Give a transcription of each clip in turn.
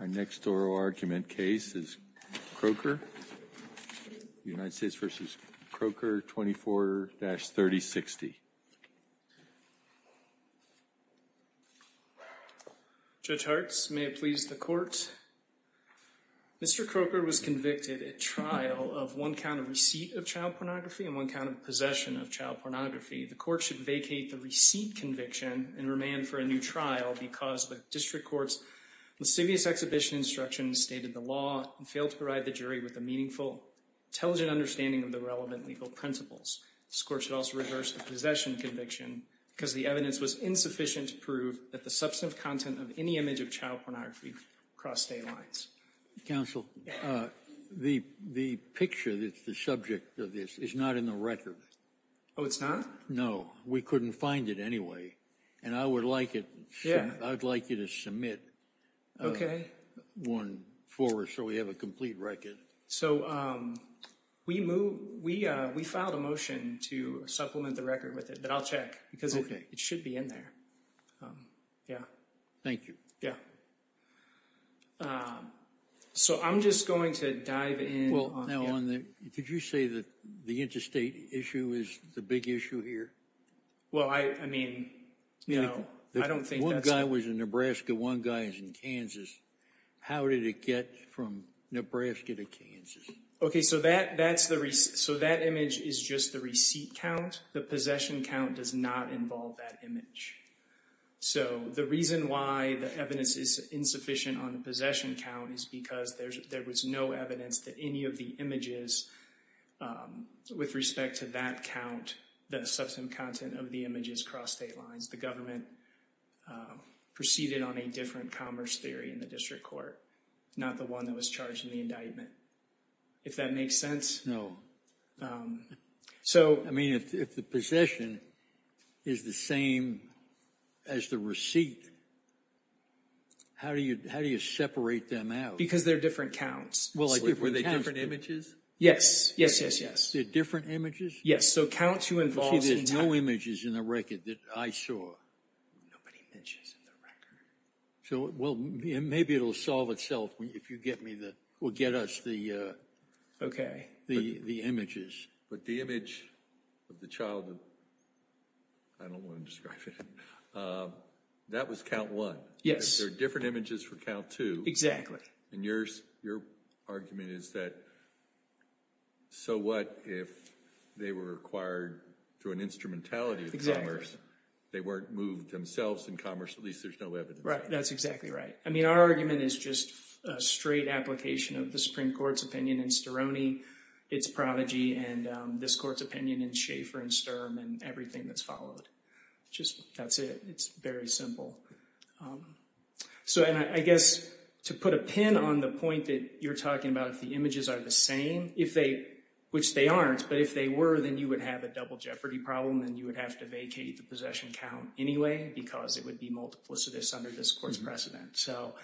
Our next oral argument case is Kroeker, United States v. Kroeker, 24-3060. Judge Hartz, may it please the Court. Mr. Kroeker was convicted at trial of one count of receipt of child pornography and one count of possession of child pornography. The Court should vacate the receipt conviction and remand for a new trial because the district court's lascivious exhibition instruction stated the law and failed to provide the jury with a meaningful, intelligent understanding of the relevant legal principles. This Court should also reverse the possession conviction because the evidence was insufficient to prove that the substantive content of any image of child pornography crossed state lines. Counsel, the picture that's the subject of this is not in the record. Oh, it's not? No, we couldn't find it anyway, and I would like you to submit one for us so we have a complete record. So we filed a motion to supplement the record with it, but I'll check because it should be in there. Thank you. Yeah, so I'm just going to dive in. Well, now on the, did you say that the interstate issue is the big issue here? Well, I mean, you know, I don't think that's... One guy was in Nebraska, one guy is in Kansas. How did it get from Nebraska to Kansas? Okay, so that image is just the receipt count. The possession count does not involve that image. So the reason why the evidence is insufficient on the possession count is because there was no evidence that any of the images with respect to that count, the substantive content of the images crossed state lines. The government proceeded on a different commerce theory in the District Court, not the one that was charged in the indictment. If that makes sense? No. I mean, if the possession is the same as the receipt, how do you separate them out? Because they're different counts. Well, were they different images? Yes, yes, yes, yes. They're different images? Yes, so counts who involve... Actually, there's no images in the record that I saw. Nobody mentions in the record. So, well, maybe it'll solve itself if you get me the, or get us the... Okay. ...the images. But the image of the child, I don't want to describe it, that was count one. Yes. There are different images for count two. And your argument is that, so what if they were acquired through an instrumentality of commerce? They weren't moved themselves in commerce, at least there's no evidence. Right, that's exactly right. I mean, our argument is just a straight application of the Supreme Court's prodigy and this court's opinion in Schaeffer and Sturm and everything that's followed. Just, that's it. It's very simple. So, and I guess to put a pin on the point that you're talking about, if the images are the same, if they, which they aren't, but if they were, then you would have a double-jeopardy problem, and you would have to vacate the possession count anyway, because it would be multiplicitous under this court's precedent. So,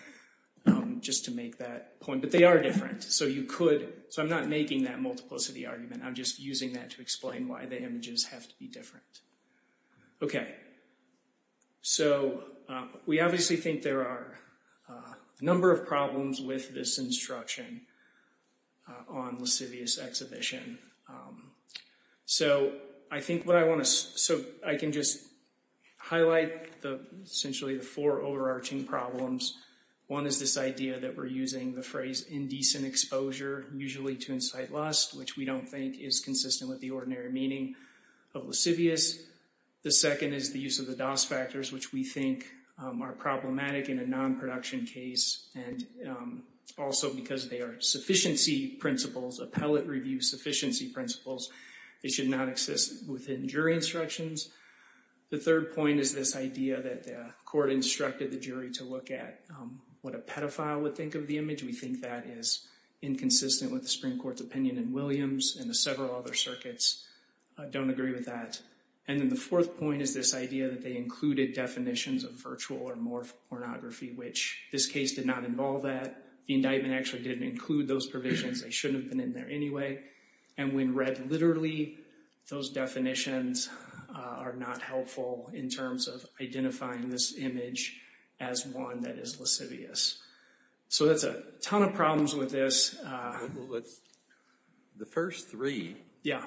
just to make that point, but they are different. So, you could, so I'm not making that multiplicity argument. I'm just using that to explain why the images have to be different. Okay, so we obviously think there are a number of problems with this instruction on lascivious exhibition. So, I think what I want to, so I can just highlight the, essentially the four overarching problems. One is this idea that we're using the phrase indecent exposure, usually to incite lust, which we don't think is consistent with the ordinary meaning of lascivious. The second is the use of the DOS factors, which we think are problematic in a non-production case, and also because they are sufficiency principles, appellate review sufficiency principles. It should not exist within jury instructions. The third point is this idea that the court instructed the jury to look at what a pedophile would think of the image. We think that is inconsistent with the Supreme Court's opinion in Williams and the several other circuits don't agree with that. And then the fourth point is this idea that they included definitions of virtual or morph pornography, which this case did not involve that. The indictment actually didn't include those provisions. They shouldn't have been in there anyway. And when read literally, those definitions are not helpful in terms of identifying this image as one that is lascivious. So that's a ton of problems with this. The first three. Yeah.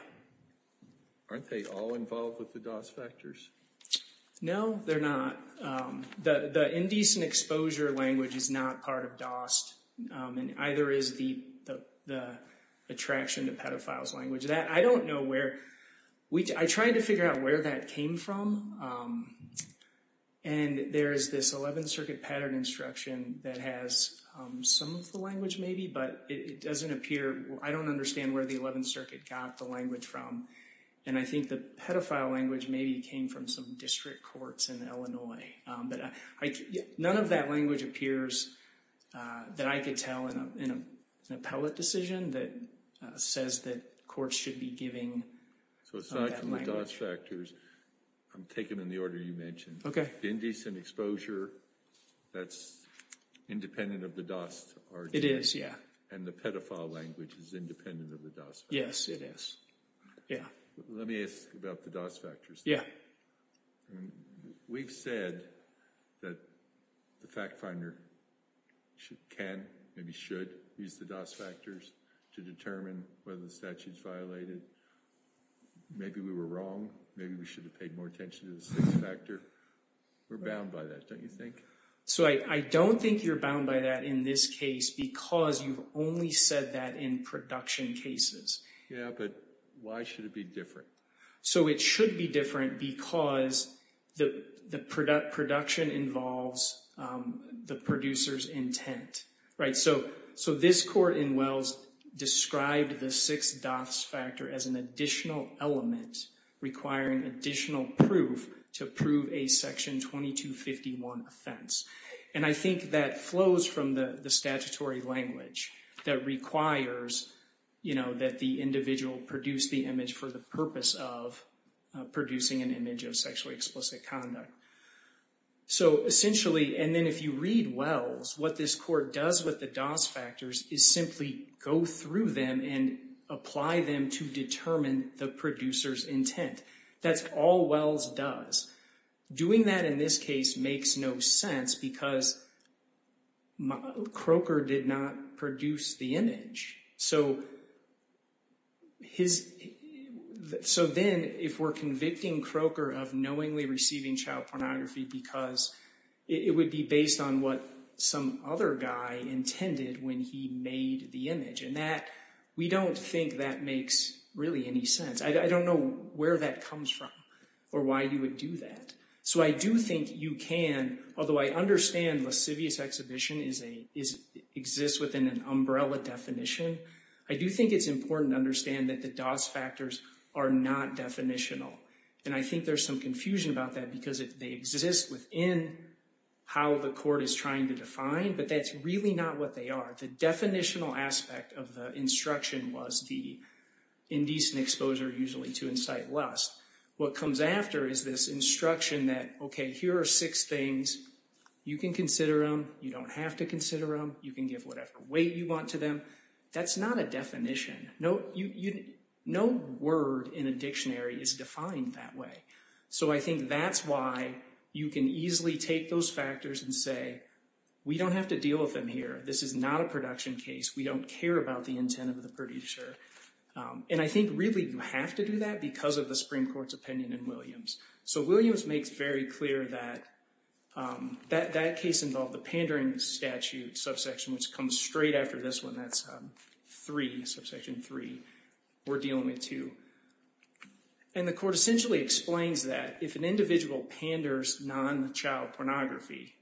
Aren't they all involved with the DOS factors? No, they're not. The indecent exposure language is not part of DOST, and either is the attraction to pedophile's language. That, I don't know where. I tried to figure out where that came from, and there is this 11th Circuit pattern instruction that has some of the language maybe, but it doesn't appear. I don't understand where the 11th Circuit got the language from, and I think the pedophile language maybe came from some district courts in Illinois. But none of that language appears that I could tell in an appellate decision that says that courts should be giving that language. So aside from the DOS factors, I'm taking them in the order you mentioned. Indecent exposure, that's independent of the DOST argument. It is, yeah. And the pedophile language is independent of the DOS factors. Yes, it is. Yeah. Let me ask about the DOS factors. Yeah. I mean, we've said that the fact finder can, maybe should, use the DOS factors to determine whether the statute's violated. Maybe we were wrong. Maybe we should have paid more attention to the sixth factor. We're bound by that, don't you think? So I don't think you're bound by that in this case because you've only said that in production cases. Yeah, but why should it be different? So it should be different because the production involves the producer's intent, right? So this court in Wells described the sixth DOS factor as an additional element requiring additional proof to prove a Section 2251 offense. And I think that flows from the statutory language that requires that the individual produce the image for the purpose of producing an image of sexually explicit conduct. So essentially, and then if you read Wells, what this court does with the DOS factors is simply go through them and apply them to determine the producer's intent. That's all Wells does. Doing that in this case makes no sense because Croker did not produce the image. So then if we're convicting Croker of knowingly receiving child pornography because it would be based on what some other guy intended when he made the image. And we don't think that makes really any sense. I don't know where that comes from or why you would do that. So I do think you can, although I understand lascivious exhibition exists within an umbrella definition, I do think it's important to understand that the DOS factors are not definitional. And I think there's some confusion about that because they exist within how the court is trying to define, but that's really not what they are. The definitional aspect of the instruction was the indecent exposure usually to incite lust. What comes after is this instruction that, okay, here are six things. You can consider them. You don't have to consider them. You can give whatever weight you want to them. That's not a definition. No word in a dictionary is defined that way. So I think that's why you can easily take those factors and say, we don't have to deal with them here. This is not a production case. We don't care about the intent of the producer. And I think really you have to do that because of the Supreme Court's opinion in Williams. So Williams makes very clear that that case involved the pandering statute subsection, which comes straight after this one. That's three, subsection three. We're dealing with two. And the court essentially explains that if an individual panders non-child pornography,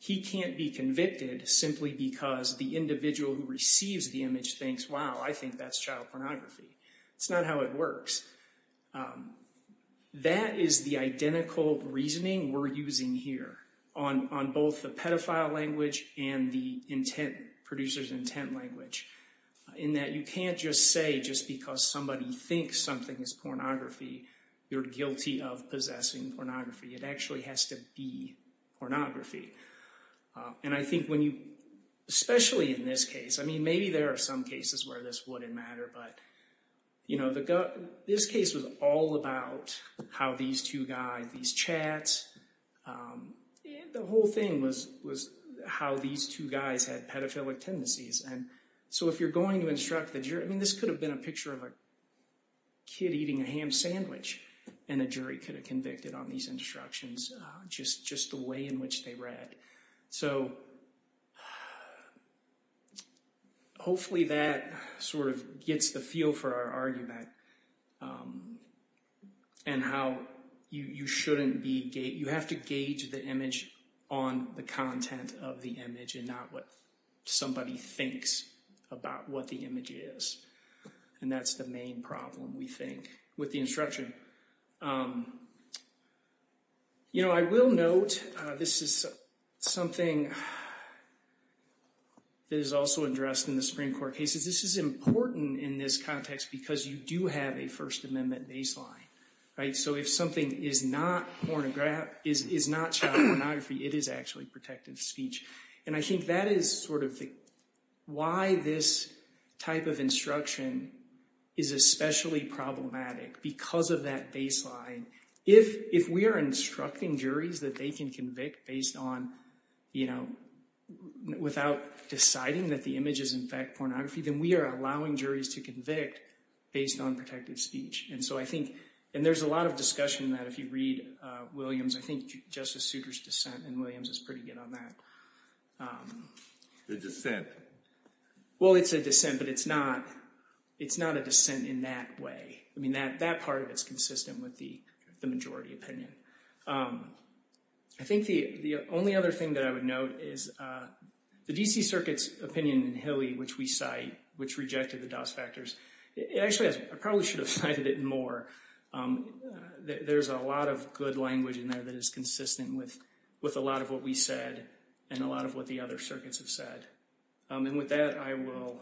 he can't be convicted simply because the individual who receives the image thinks, wow, I think that's child pornography. It's not how it works. That is the identical reasoning we're using here on both the pedophile language and the intent, producer's intent language, in that you can't just say just because somebody thinks something is pornography, you're guilty of possessing pornography. It actually has to be pornography. And I think when you, especially in this case, I mean, maybe there are some cases where this wouldn't matter, but this case was all about how these two guys, these chats, the whole thing was how these two guys had pedophilic tendencies. And so if you're going to instruct the jury, I mean, this could have been a picture of a kid eating a ham sandwich and a jury could have convicted on these instructions just the way in which they read. So hopefully that sort of gets the feel for our argument and how you shouldn't be, you have to gauge the image on the content of the image and not what somebody thinks about what the image is. And that's the main problem, we think, with the instruction. You know, I will note this is something that is also addressed in the Supreme Court cases. This is important in this context because you do have a First Amendment baseline, right? So if something is not pornography, is not child pornography, it is actually protective speech. And I think that is sort of why this type of instruction is especially problematic, because of that baseline. If we are instructing juries that they can convict based on, you know, without deciding that the image is in fact pornography, then we are allowing juries to convict based on protective speech. And so I think, and there's a lot of discussion that if you read Williams, I think Justice Souter's dissent in Williams is pretty good on that. The dissent? Well, it's a dissent, but it's not a dissent in that way. I mean, that part of it is consistent with the majority opinion. I think the only other thing that I would note is the D.C. Circuit's opinion in Hilly, which we cite, which rejected the DOS factors. Actually, I probably should have cited it more. There's a lot of good language in there that is consistent with a lot of what we said and a lot of what the other circuits have said. And with that, I will,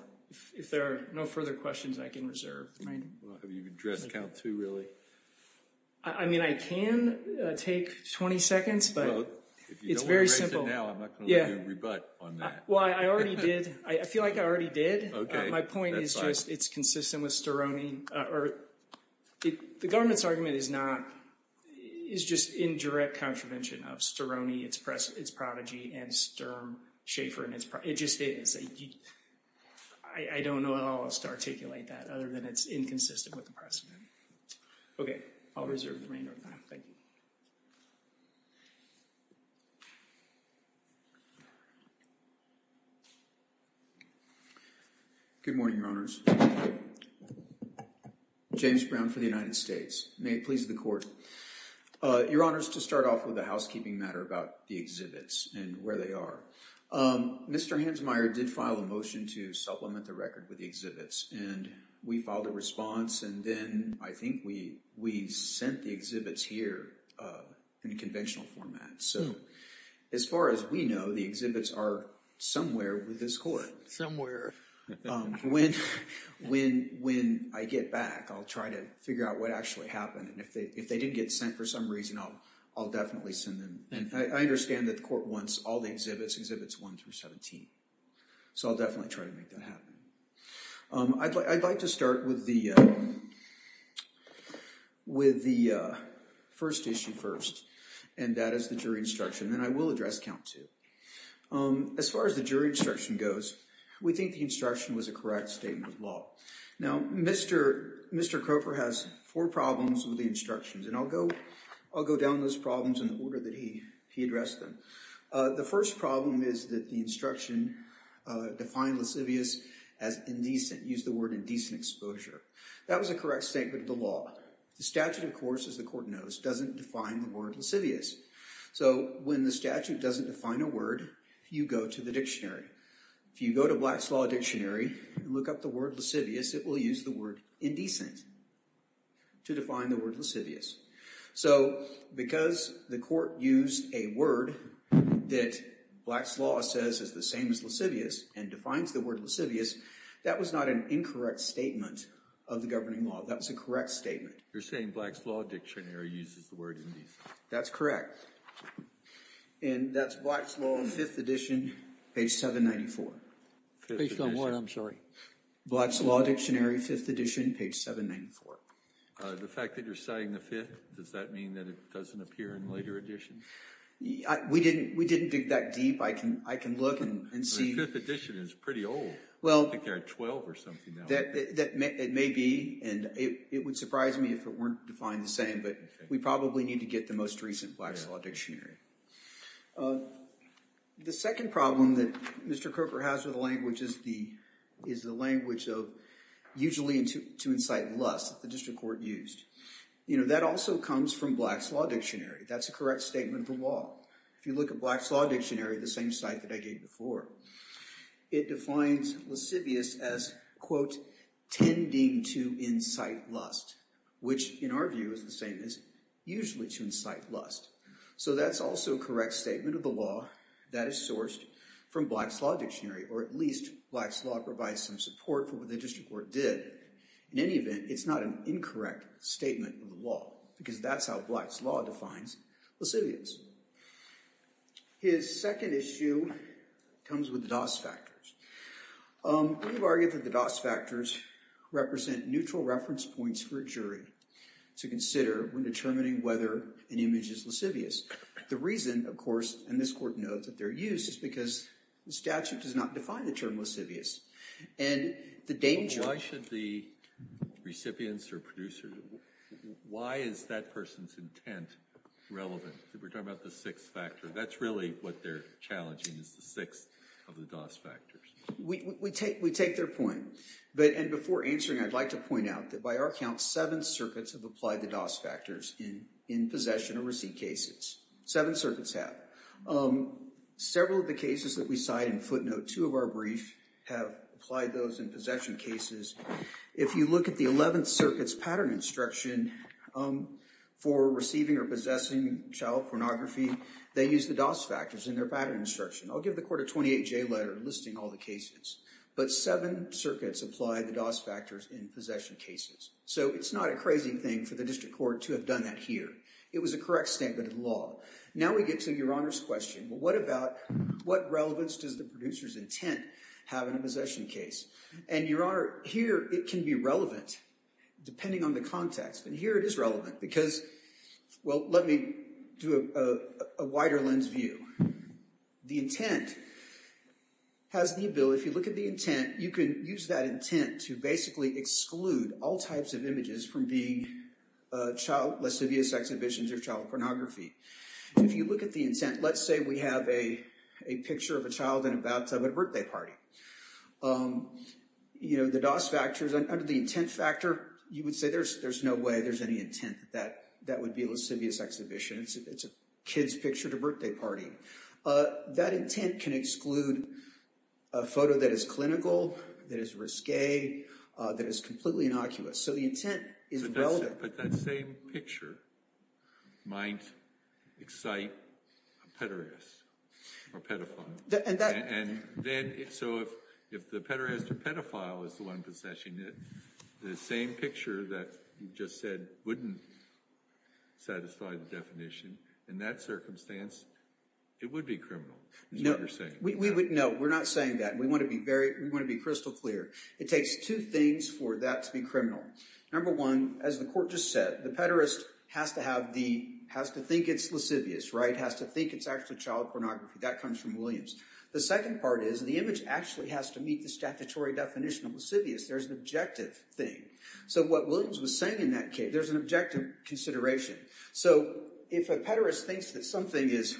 if there are no further questions, I can reserve. Well, have you addressed count two, really? I mean, I can take 20 seconds, but it's very simple. Well, if you don't erase it now, I'm not going to let you rebut on that. Well, I already did. I feel like I already did. My point is just it's consistent with Storoni. The government's argument is not, is just in direct contravention of Storoni, its prodigy, and Sturm, Schaefer, and its prodigy. It just is. I don't know how else to articulate that other than it's inconsistent with the precedent. Okay, I'll reserve the remainder of my time. Thank you. Good morning, Your Honors. James Brown for the United States. May it please the Court. Your Honors, to start off with a housekeeping matter about the exhibits and where they are. Mr. Hansmeier did file a motion to supplement the record with the exhibits, and we filed a response, and then I think we sent the exhibits here in a conventional format. So as far as we know, the exhibits are somewhere with this Court. Somewhere. When I get back, I'll try to figure out what actually happened, and if they didn't get sent for some reason, I'll definitely send them. And I understand that the Court wants all the exhibits, exhibits 1 through 17. So I'll definitely try to make that happen. I'd like to start with the first issue first, and that is the jury instruction, and I will address count two. As far as the jury instruction goes, we think the instruction was a correct statement of law. Now, Mr. Cropper has four problems with the instructions, and I'll go down those problems in the order that he addressed them. The first problem is that the instruction defined lascivious as indecent, used the word indecent exposure. That was a correct statement of the law. The statute, of course, as the Court knows, doesn't define the word lascivious. So when the statute doesn't define a word, you go to the dictionary. If you go to Black's Law Dictionary and look up the word lascivious, it will use the word indecent to define the word lascivious. So because the Court used a word that Black's Law says is the same as lascivious and defines the word lascivious, that was not an incorrect statement of the governing law. That's a correct statement. You're saying Black's Law Dictionary uses the word indecent. That's correct. And that's Black's Law, 5th edition, page 794. Based on what? I'm sorry. Black's Law Dictionary, 5th edition, page 794. The fact that you're saying the 5th, does that mean that it doesn't appear in later editions? We didn't dig that deep. I can look and see. The 5th edition is pretty old. Well. I think they're at 12 or something now. It may be. And it would surprise me if it weren't defined the same. But we probably need to get the most recent Black's Law Dictionary. The second problem that Mr. Coker has with the language is the language of, usually, to incite lust that the district court used. That also comes from Black's Law Dictionary. That's a correct statement of the law. If you look at Black's Law Dictionary, the same site that I gave before, it defines lascivious as, quote, tending to incite lust, which, in our view, is the same as usually to incite lust. So that's also a correct statement of the law that is sourced from Black's Law Dictionary, or at least Black's Law provides some support for what the district court did. In any event, it's not an incorrect statement of the law because that's how Black's Law defines lascivious. His second issue comes with the DOS factors. We've argued that the DOS factors represent neutral reference points for a jury to consider when determining whether an image is lascivious. The reason, of course, and this court knows that they're used, is because the statute does not define the term lascivious. And the danger... Why should the recipients or producers... Why is that person's intent relevant? We're talking about the sixth factor. That's really what they're challenging, is the sixth of the DOS factors. We take their point. And before answering, I'd like to point out that by our count, seven circuits have applied the DOS factors in possession or receipt cases. Seven circuits have. Um, several of the cases that we cite in footnote, two of our briefs have applied those in possession cases. If you look at the 11th Circuit's pattern instruction for receiving or possessing child pornography, they use the DOS factors in their pattern instruction. I'll give the court a 28-J letter listing all the cases. But seven circuits apply the DOS factors in possession cases. So it's not a crazy thing for the district court to have done that here. It was a correct statement of the law. Now we get to Your Honor's question. What about... What relevance does the producer's intent have in a possession case? And Your Honor, here it can be relevant depending on the context. But here it is relevant because... Well, let me do a wider lens view. The intent has the ability... If you look at the intent, you can use that intent to basically exclude all types of images from being child... Lascivious exhibitions or child pornography. If you look at the intent, let's say we have a picture of a child in a bathtub at a birthday party. You know, the DOS factors under the intent factor, you would say there's no way there's any intent that that would be a lascivious exhibition. It's a kid's picture at a birthday party. That intent can exclude a photo that is clinical, that is risque, that is completely innocuous. So the intent is relevant. But that same picture might excite a pederast or pedophile. And then... So if the pederast or pedophile is the one possessing it, the same picture that you just said wouldn't satisfy the definition, in that circumstance, it would be criminal, is what you're saying. We would... No, we're not saying that. We want to be very... We want to be crystal clear. It takes two things for that to be criminal. Number one, as the court just said, the pederast has to have the... Has to think it's lascivious, right? Has to think it's actually child pornography. That comes from Williams. The second part is the image actually has to meet the statutory definition of lascivious. There's an objective thing. So what Williams was saying in that case, there's an objective consideration. So if a pederast thinks that something is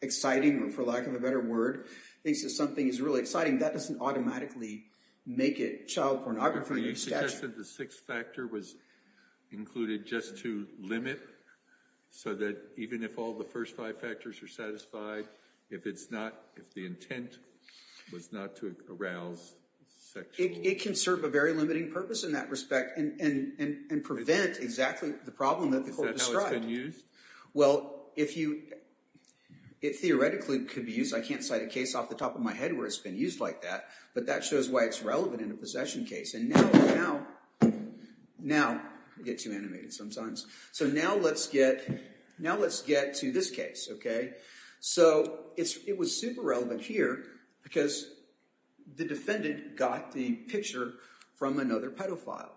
exciting, or for lack of a better word, thinks that something is really exciting, that doesn't automatically make it child pornography. You suggested the sixth factor was included just to limit, so that even if all the first five factors are satisfied, if it's not, if the intent was not to arouse sexual... It can serve a very limiting purpose in that respect, and prevent exactly the problem that the court described. Is that how it's been used? Well, if you... It theoretically could be used. I can't cite a case off the top of my head where it's been used like that, but that shows why it's relevant in a possession case. And now... Now, I get too animated sometimes. So now let's get to this case, okay? So it was super relevant here because the defendant got the picture from another pedophile.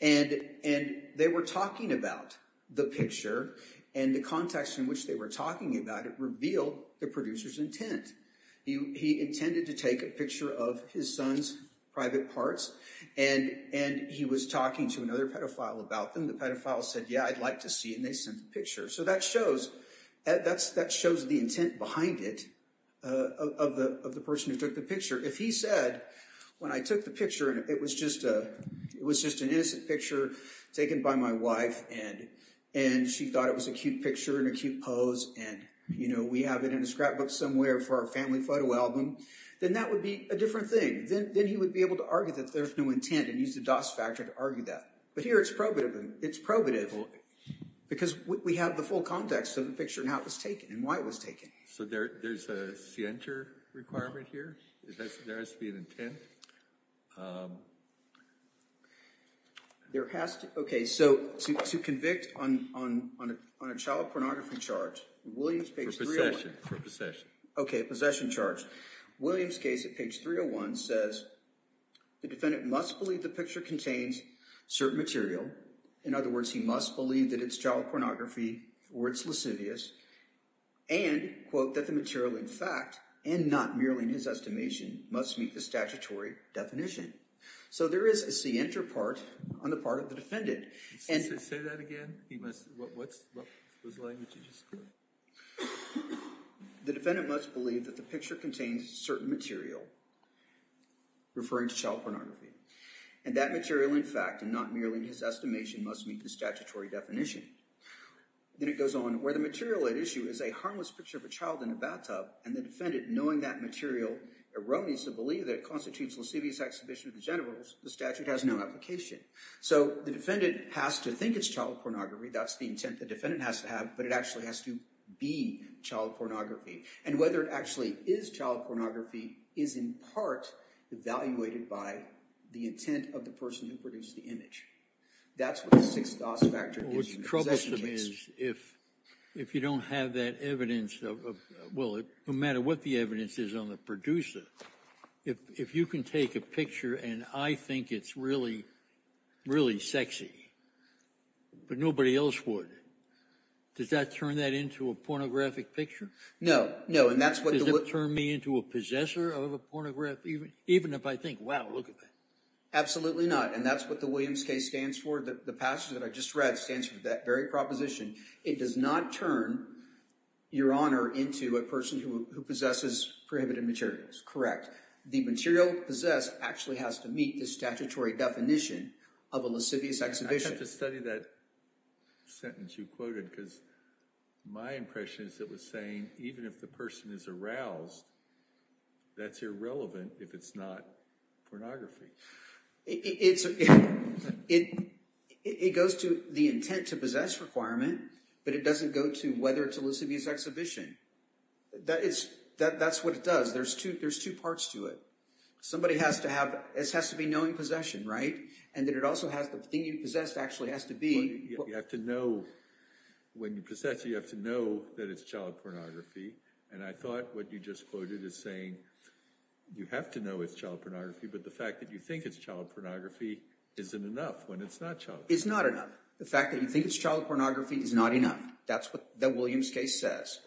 And they were talking about the picture, and the context in which they were talking about it revealed the producer's intent. He intended to take a picture of his son's private parts, and he was talking to another pedophile about them. The pedophile said, yeah, I'd like to see, and they sent the picture. So that shows the intent behind it of the person who took the picture. If he said, when I took the picture, and it was just an innocent picture taken by my wife, and she thought it was a cute picture and a cute pose, and we have it in a scrapbook somewhere for our family photo album, then that would be a different thing. Then he would be able to argue that there's no intent and use the Doss factor to argue that. But here it's probative. It's probative because we have the full context of the picture and how it was taken and why it was taken. So there's a scienter requirement here? There has to be an intent? There has to... Okay, so to convict on a child pornography charge, Williams page 301... For possession, for possession. Okay, possession charge. Williams case at page 301 says, the defendant must believe the picture contains certain material. In other words, he must believe that it's child pornography or it's lascivious and, quote, that the material in fact, and not merely in his estimation, must meet the statutory definition. So there is a scienter part on the part of the defendant. Can you say that again? Was the language you just... The defendant must believe that the picture contains certain material referring to child pornography. And that material, in fact, and not merely in his estimation, must meet the statutory definition. Then it goes on where the material at issue is a harmless picture of a child in a bathtub and the defendant knowing that material erroneously believe that it constitutes lascivious exhibition of the generals, the statute has no application. So the defendant has to think it's child pornography. That's the intent the defendant has to have, but it actually has to be child pornography. And whether it actually is child pornography is in part evaluated by the intent of the person who produced the image. That's what the Sixth Aus Factor gives you in a possession case. What's troublesome is if you don't have that evidence of, well, no matter what the evidence is on the producer, if you can take a picture and I think it's really, really sexy, but nobody else would, does that turn that into a pornographic picture? No, no. And that's what- Does it turn me into a possessor of a pornographic, even if I think, wow, look at that. Absolutely not. And that's what the Williams case stands for. The passage that I just read stands for that very proposition. It does not turn your honor into a person who possesses prohibited materials. Correct. The material possessed actually has to meet the statutory definition of a lascivious exhibition. I have to study that sentence you quoted because my impression is it was saying even if the person is aroused, that's irrelevant if it's not pornography. It goes to the intent to possess requirement, but it doesn't go to whether it's a lascivious exhibition. That's what it does. There's two parts to it. Somebody has to have, this has to be knowing possession, right? And that it also has, the thing you possessed actually has to be- When you possess, you have to know that it's child pornography. And I thought what you just quoted is saying you have to know it's child pornography, but the fact that you think it's child pornography isn't enough when it's not child pornography. It's not enough. The fact that you think it's child pornography is not enough. That's what the Williams case says.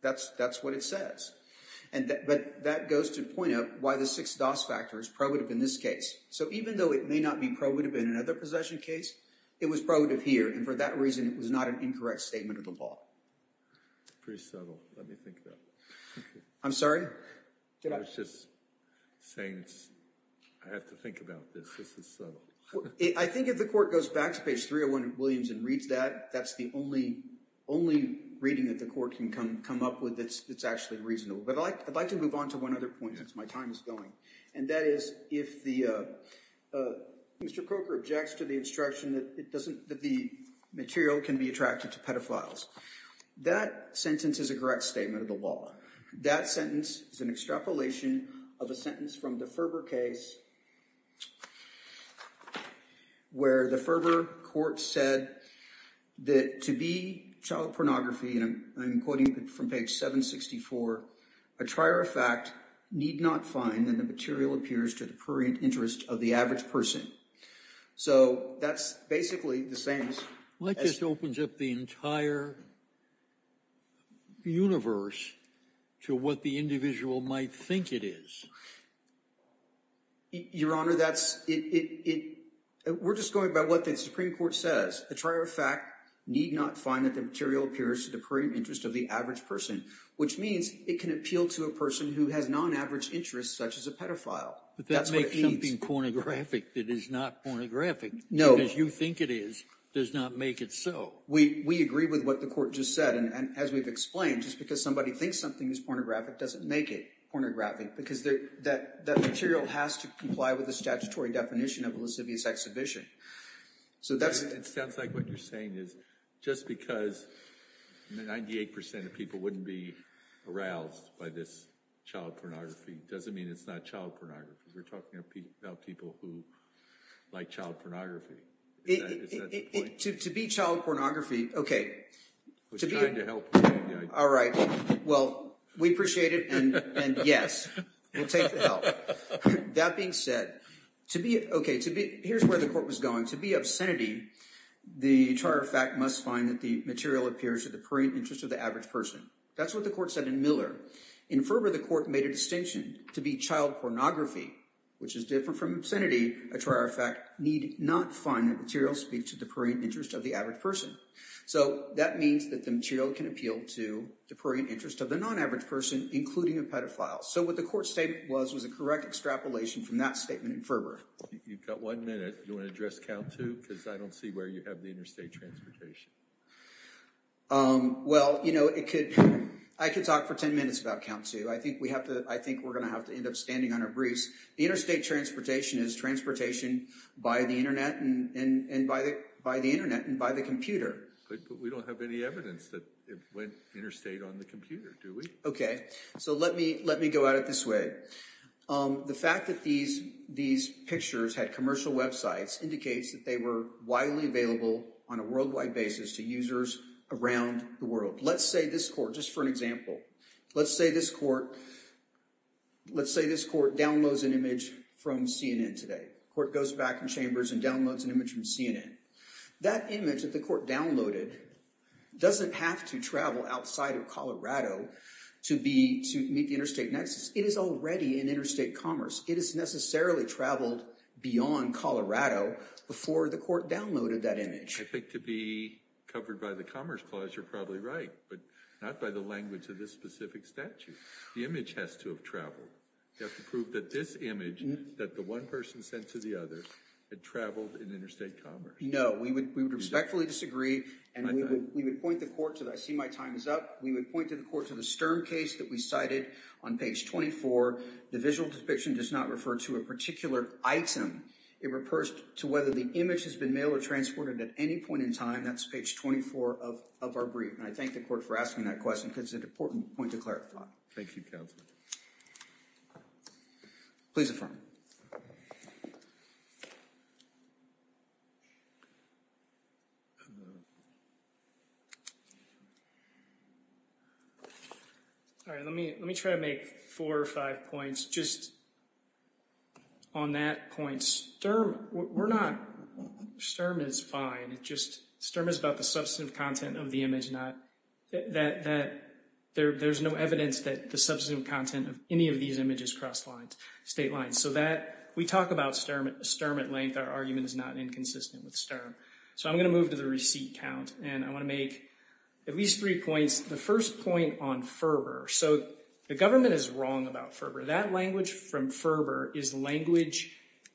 That's what it says. But that goes to point out why the 6-DOS factor is probative in this case. So even though it may not be probative in another possession case, it was probative here. And for that reason, it was not an incorrect statement of the law. It's pretty subtle. Let me think about that. I'm sorry? I was just saying I have to think about this. This is subtle. I think if the court goes back to page 301 of Williams and reads that, that's the only reading that the court can come up with that's actually reasonable. But I'd like to move on to one other point since my time is going. And that is, if Mr. Croker objects to the instruction that the material can be attracted to pedophiles, that sentence is a correct statement of the law. That sentence is an extrapolation of a sentence from the Ferber case where the Ferber court said that to be child pornography, and I'm quoting from page 764, a trier of fact need not find that the material appears to the prurient interest of the average person. So that's basically the sentence. Like this opens up the entire universe to what the individual might think it is. Your Honor, we're just going by what the Supreme Court says. A trier of fact need not find that the material appears to the prurient interest of the average person, which means it can appeal to a person who has non-average interests, such as a pedophile. But that makes something pornographic that is not pornographic. No. Because you think it is, does not make it so. We agree with what the court just said. And as we've explained, just because somebody thinks something is pornographic doesn't make it pornographic because that material has to comply with the statutory definition of a lascivious exhibition. So that's... It sounds like what you're saying is just because 98% of people wouldn't be aroused by this child pornography doesn't mean it's not child pornography. We're talking about people who like child pornography. Is that the point? To be child pornography, okay. I was trying to help you. All right. Well, we appreciate it. And yes, we'll take the help. That being said, here's where the court was going. To be obscenity, the trier of fact must find that the material appears to the prurient interest of the average person. That's what the court said in Miller. In Ferber, the court made a distinction to be child pornography, which is different from obscenity. A trier of fact need not find the material speak to the prurient interest of the average person. So that means that the material can appeal to the prurient interest of the non-average person, including a pedophile. So what the court statement was, was a correct extrapolation from that statement in Ferber. You've got one minute. Do you want to address count too? Because I don't see where you have the interstate transportation. Well, I could talk for 10 minutes about count too. I think we're going to have to end up standing on our briefs. The interstate transportation is transportation by the internet and by the computer. But we don't have any evidence that it went interstate on the computer, do we? Okay. So let me go at it this way. The fact that these pictures had commercial websites indicates that they were widely available on a worldwide basis to users around the world. Let's say this court, just for an example, let's say this court downloads an image from CNN today. Court goes back in chambers and downloads an image from CNN. That image that the court downloaded doesn't have to travel outside of Colorado to meet the interstate nexus. It is already in interstate commerce. It is necessarily traveled beyond Colorado before the court downloaded that image. I think to be covered by the Commerce Clause, you're probably right, but not by the language of this specific statute. The image has to have traveled. You have to prove that this image that the one person sent to the other had traveled in interstate commerce. No, we would respectfully disagree and we would point the court to that. I see my time is up. We would point to the court to the Stern case that we cited on page 24. The visual depiction does not refer to a particular item. It refers to whether the image has been mailed or transported at any point in time. That's page 24 of our brief. And I thank the court for asking that question because it's an important point to clarify. Thank you, counsel. Please affirm. All right, let me try to make four or five points just on that point. Sturm is fine. Sturm is about the substantive content of the image. There's no evidence that the substantive content of any of these images cross state lines. So we talk about Sturm at length. Our argument is not inconsistent with Sturm. So I'm going to move to the receipt count and I want to make at least three points. The first point on Ferber. So the government is wrong about Ferber. That language from Ferber is language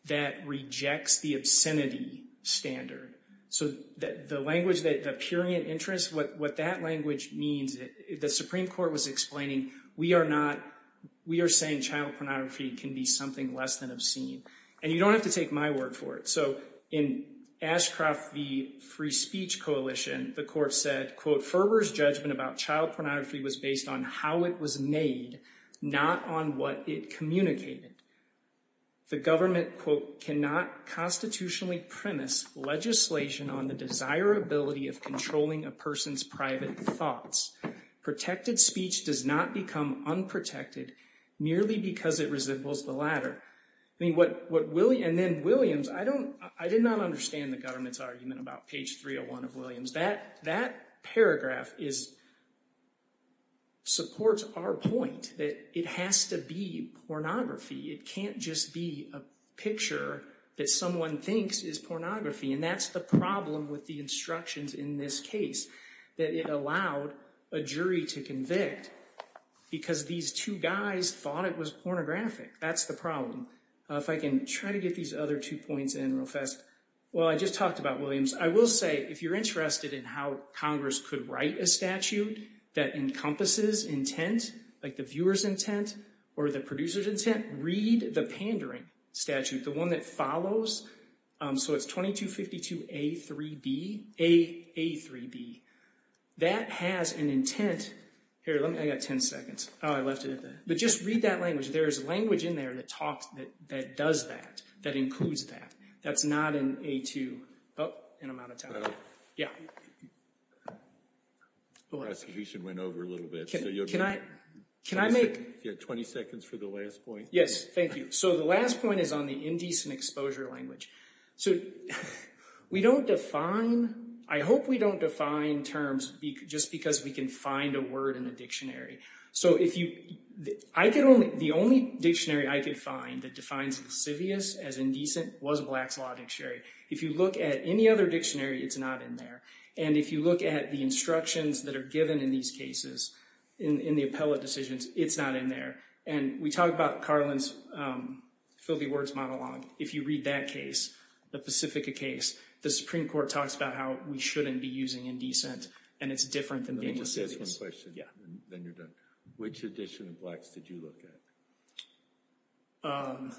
that rejects the obscenity standard. So the language that the purian interest, what that language means, the Supreme Court was explaining, we are saying child pornography can be something less than obscene. And you don't have to take my word for it. So in Ashcroft v. Free Speech Coalition, the court said, quote, Ferber's judgment about child pornography was based on how it was made, not on what it communicated. The government, quote, cannot constitutionally premise legislation on the desirability of controlling a person's private thoughts. Protected speech does not become unprotected merely because it resembles the latter. And then Williams, I did not understand the government's argument about page 301 of Williams. That paragraph supports our point. It has to be pornography. It can't just be a picture that someone thinks is pornography. And that's the problem with the instructions in this case. That it allowed a jury to convict because these two guys thought it was pornographic. That's the problem. If I can try to get these other two points in real fast. Well, I just talked about Williams. I will say if you're interested in how Congress could write a statute that encompasses intent, like the viewer's intent or the producer's intent, read the pandering statute, the one that follows. So it's 2252 A3B. That has an intent. Here, let me, I got 10 seconds. Oh, I left it at that. But just read that language. There's language in there that talks, that does that, that includes that. That's not in A2. Oh, and I'm out of time. Yeah. The prosecution went over a little bit. Can I make... You have 20 seconds for the last point. Yes, thank you. So the last point is on the indecent exposure language. So we don't define, I hope we don't define terms just because we can find a word in a dictionary. So if you, I could only, the only dictionary I could find that defines lascivious as indecent was Black's Law Dictionary. If you look at any other dictionary, it's not in there. If you look at the instructions that are given in these cases, in the appellate decisions, it's not in there. And we talked about Carlin's filthy words monologue. If you read that case, the Pacifica case, the Supreme Court talks about how we shouldn't be using indecent, and it's different than being lascivious. Let me just ask one question. Yeah. Then you're done. Which edition of Blacks did you look at?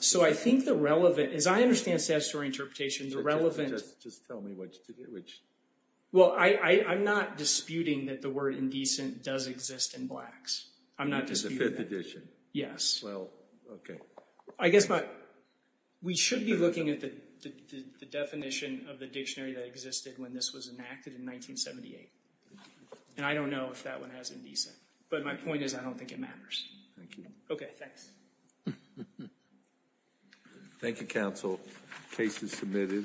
So I think the relevant, as I understand statutory interpretation, the relevant... Just tell me which, well, I'm not disputing that the word indecent does exist in Blacks. I'm not disputing that. The fifth edition? Yes. Well, okay. I guess my, we should be looking at the definition of the dictionary that existed when this was enacted in 1978. And I don't know if that one has indecent, but my point is I don't think it matters. Thank you. Okay, thanks. Thank you, counsel. Case is submitted.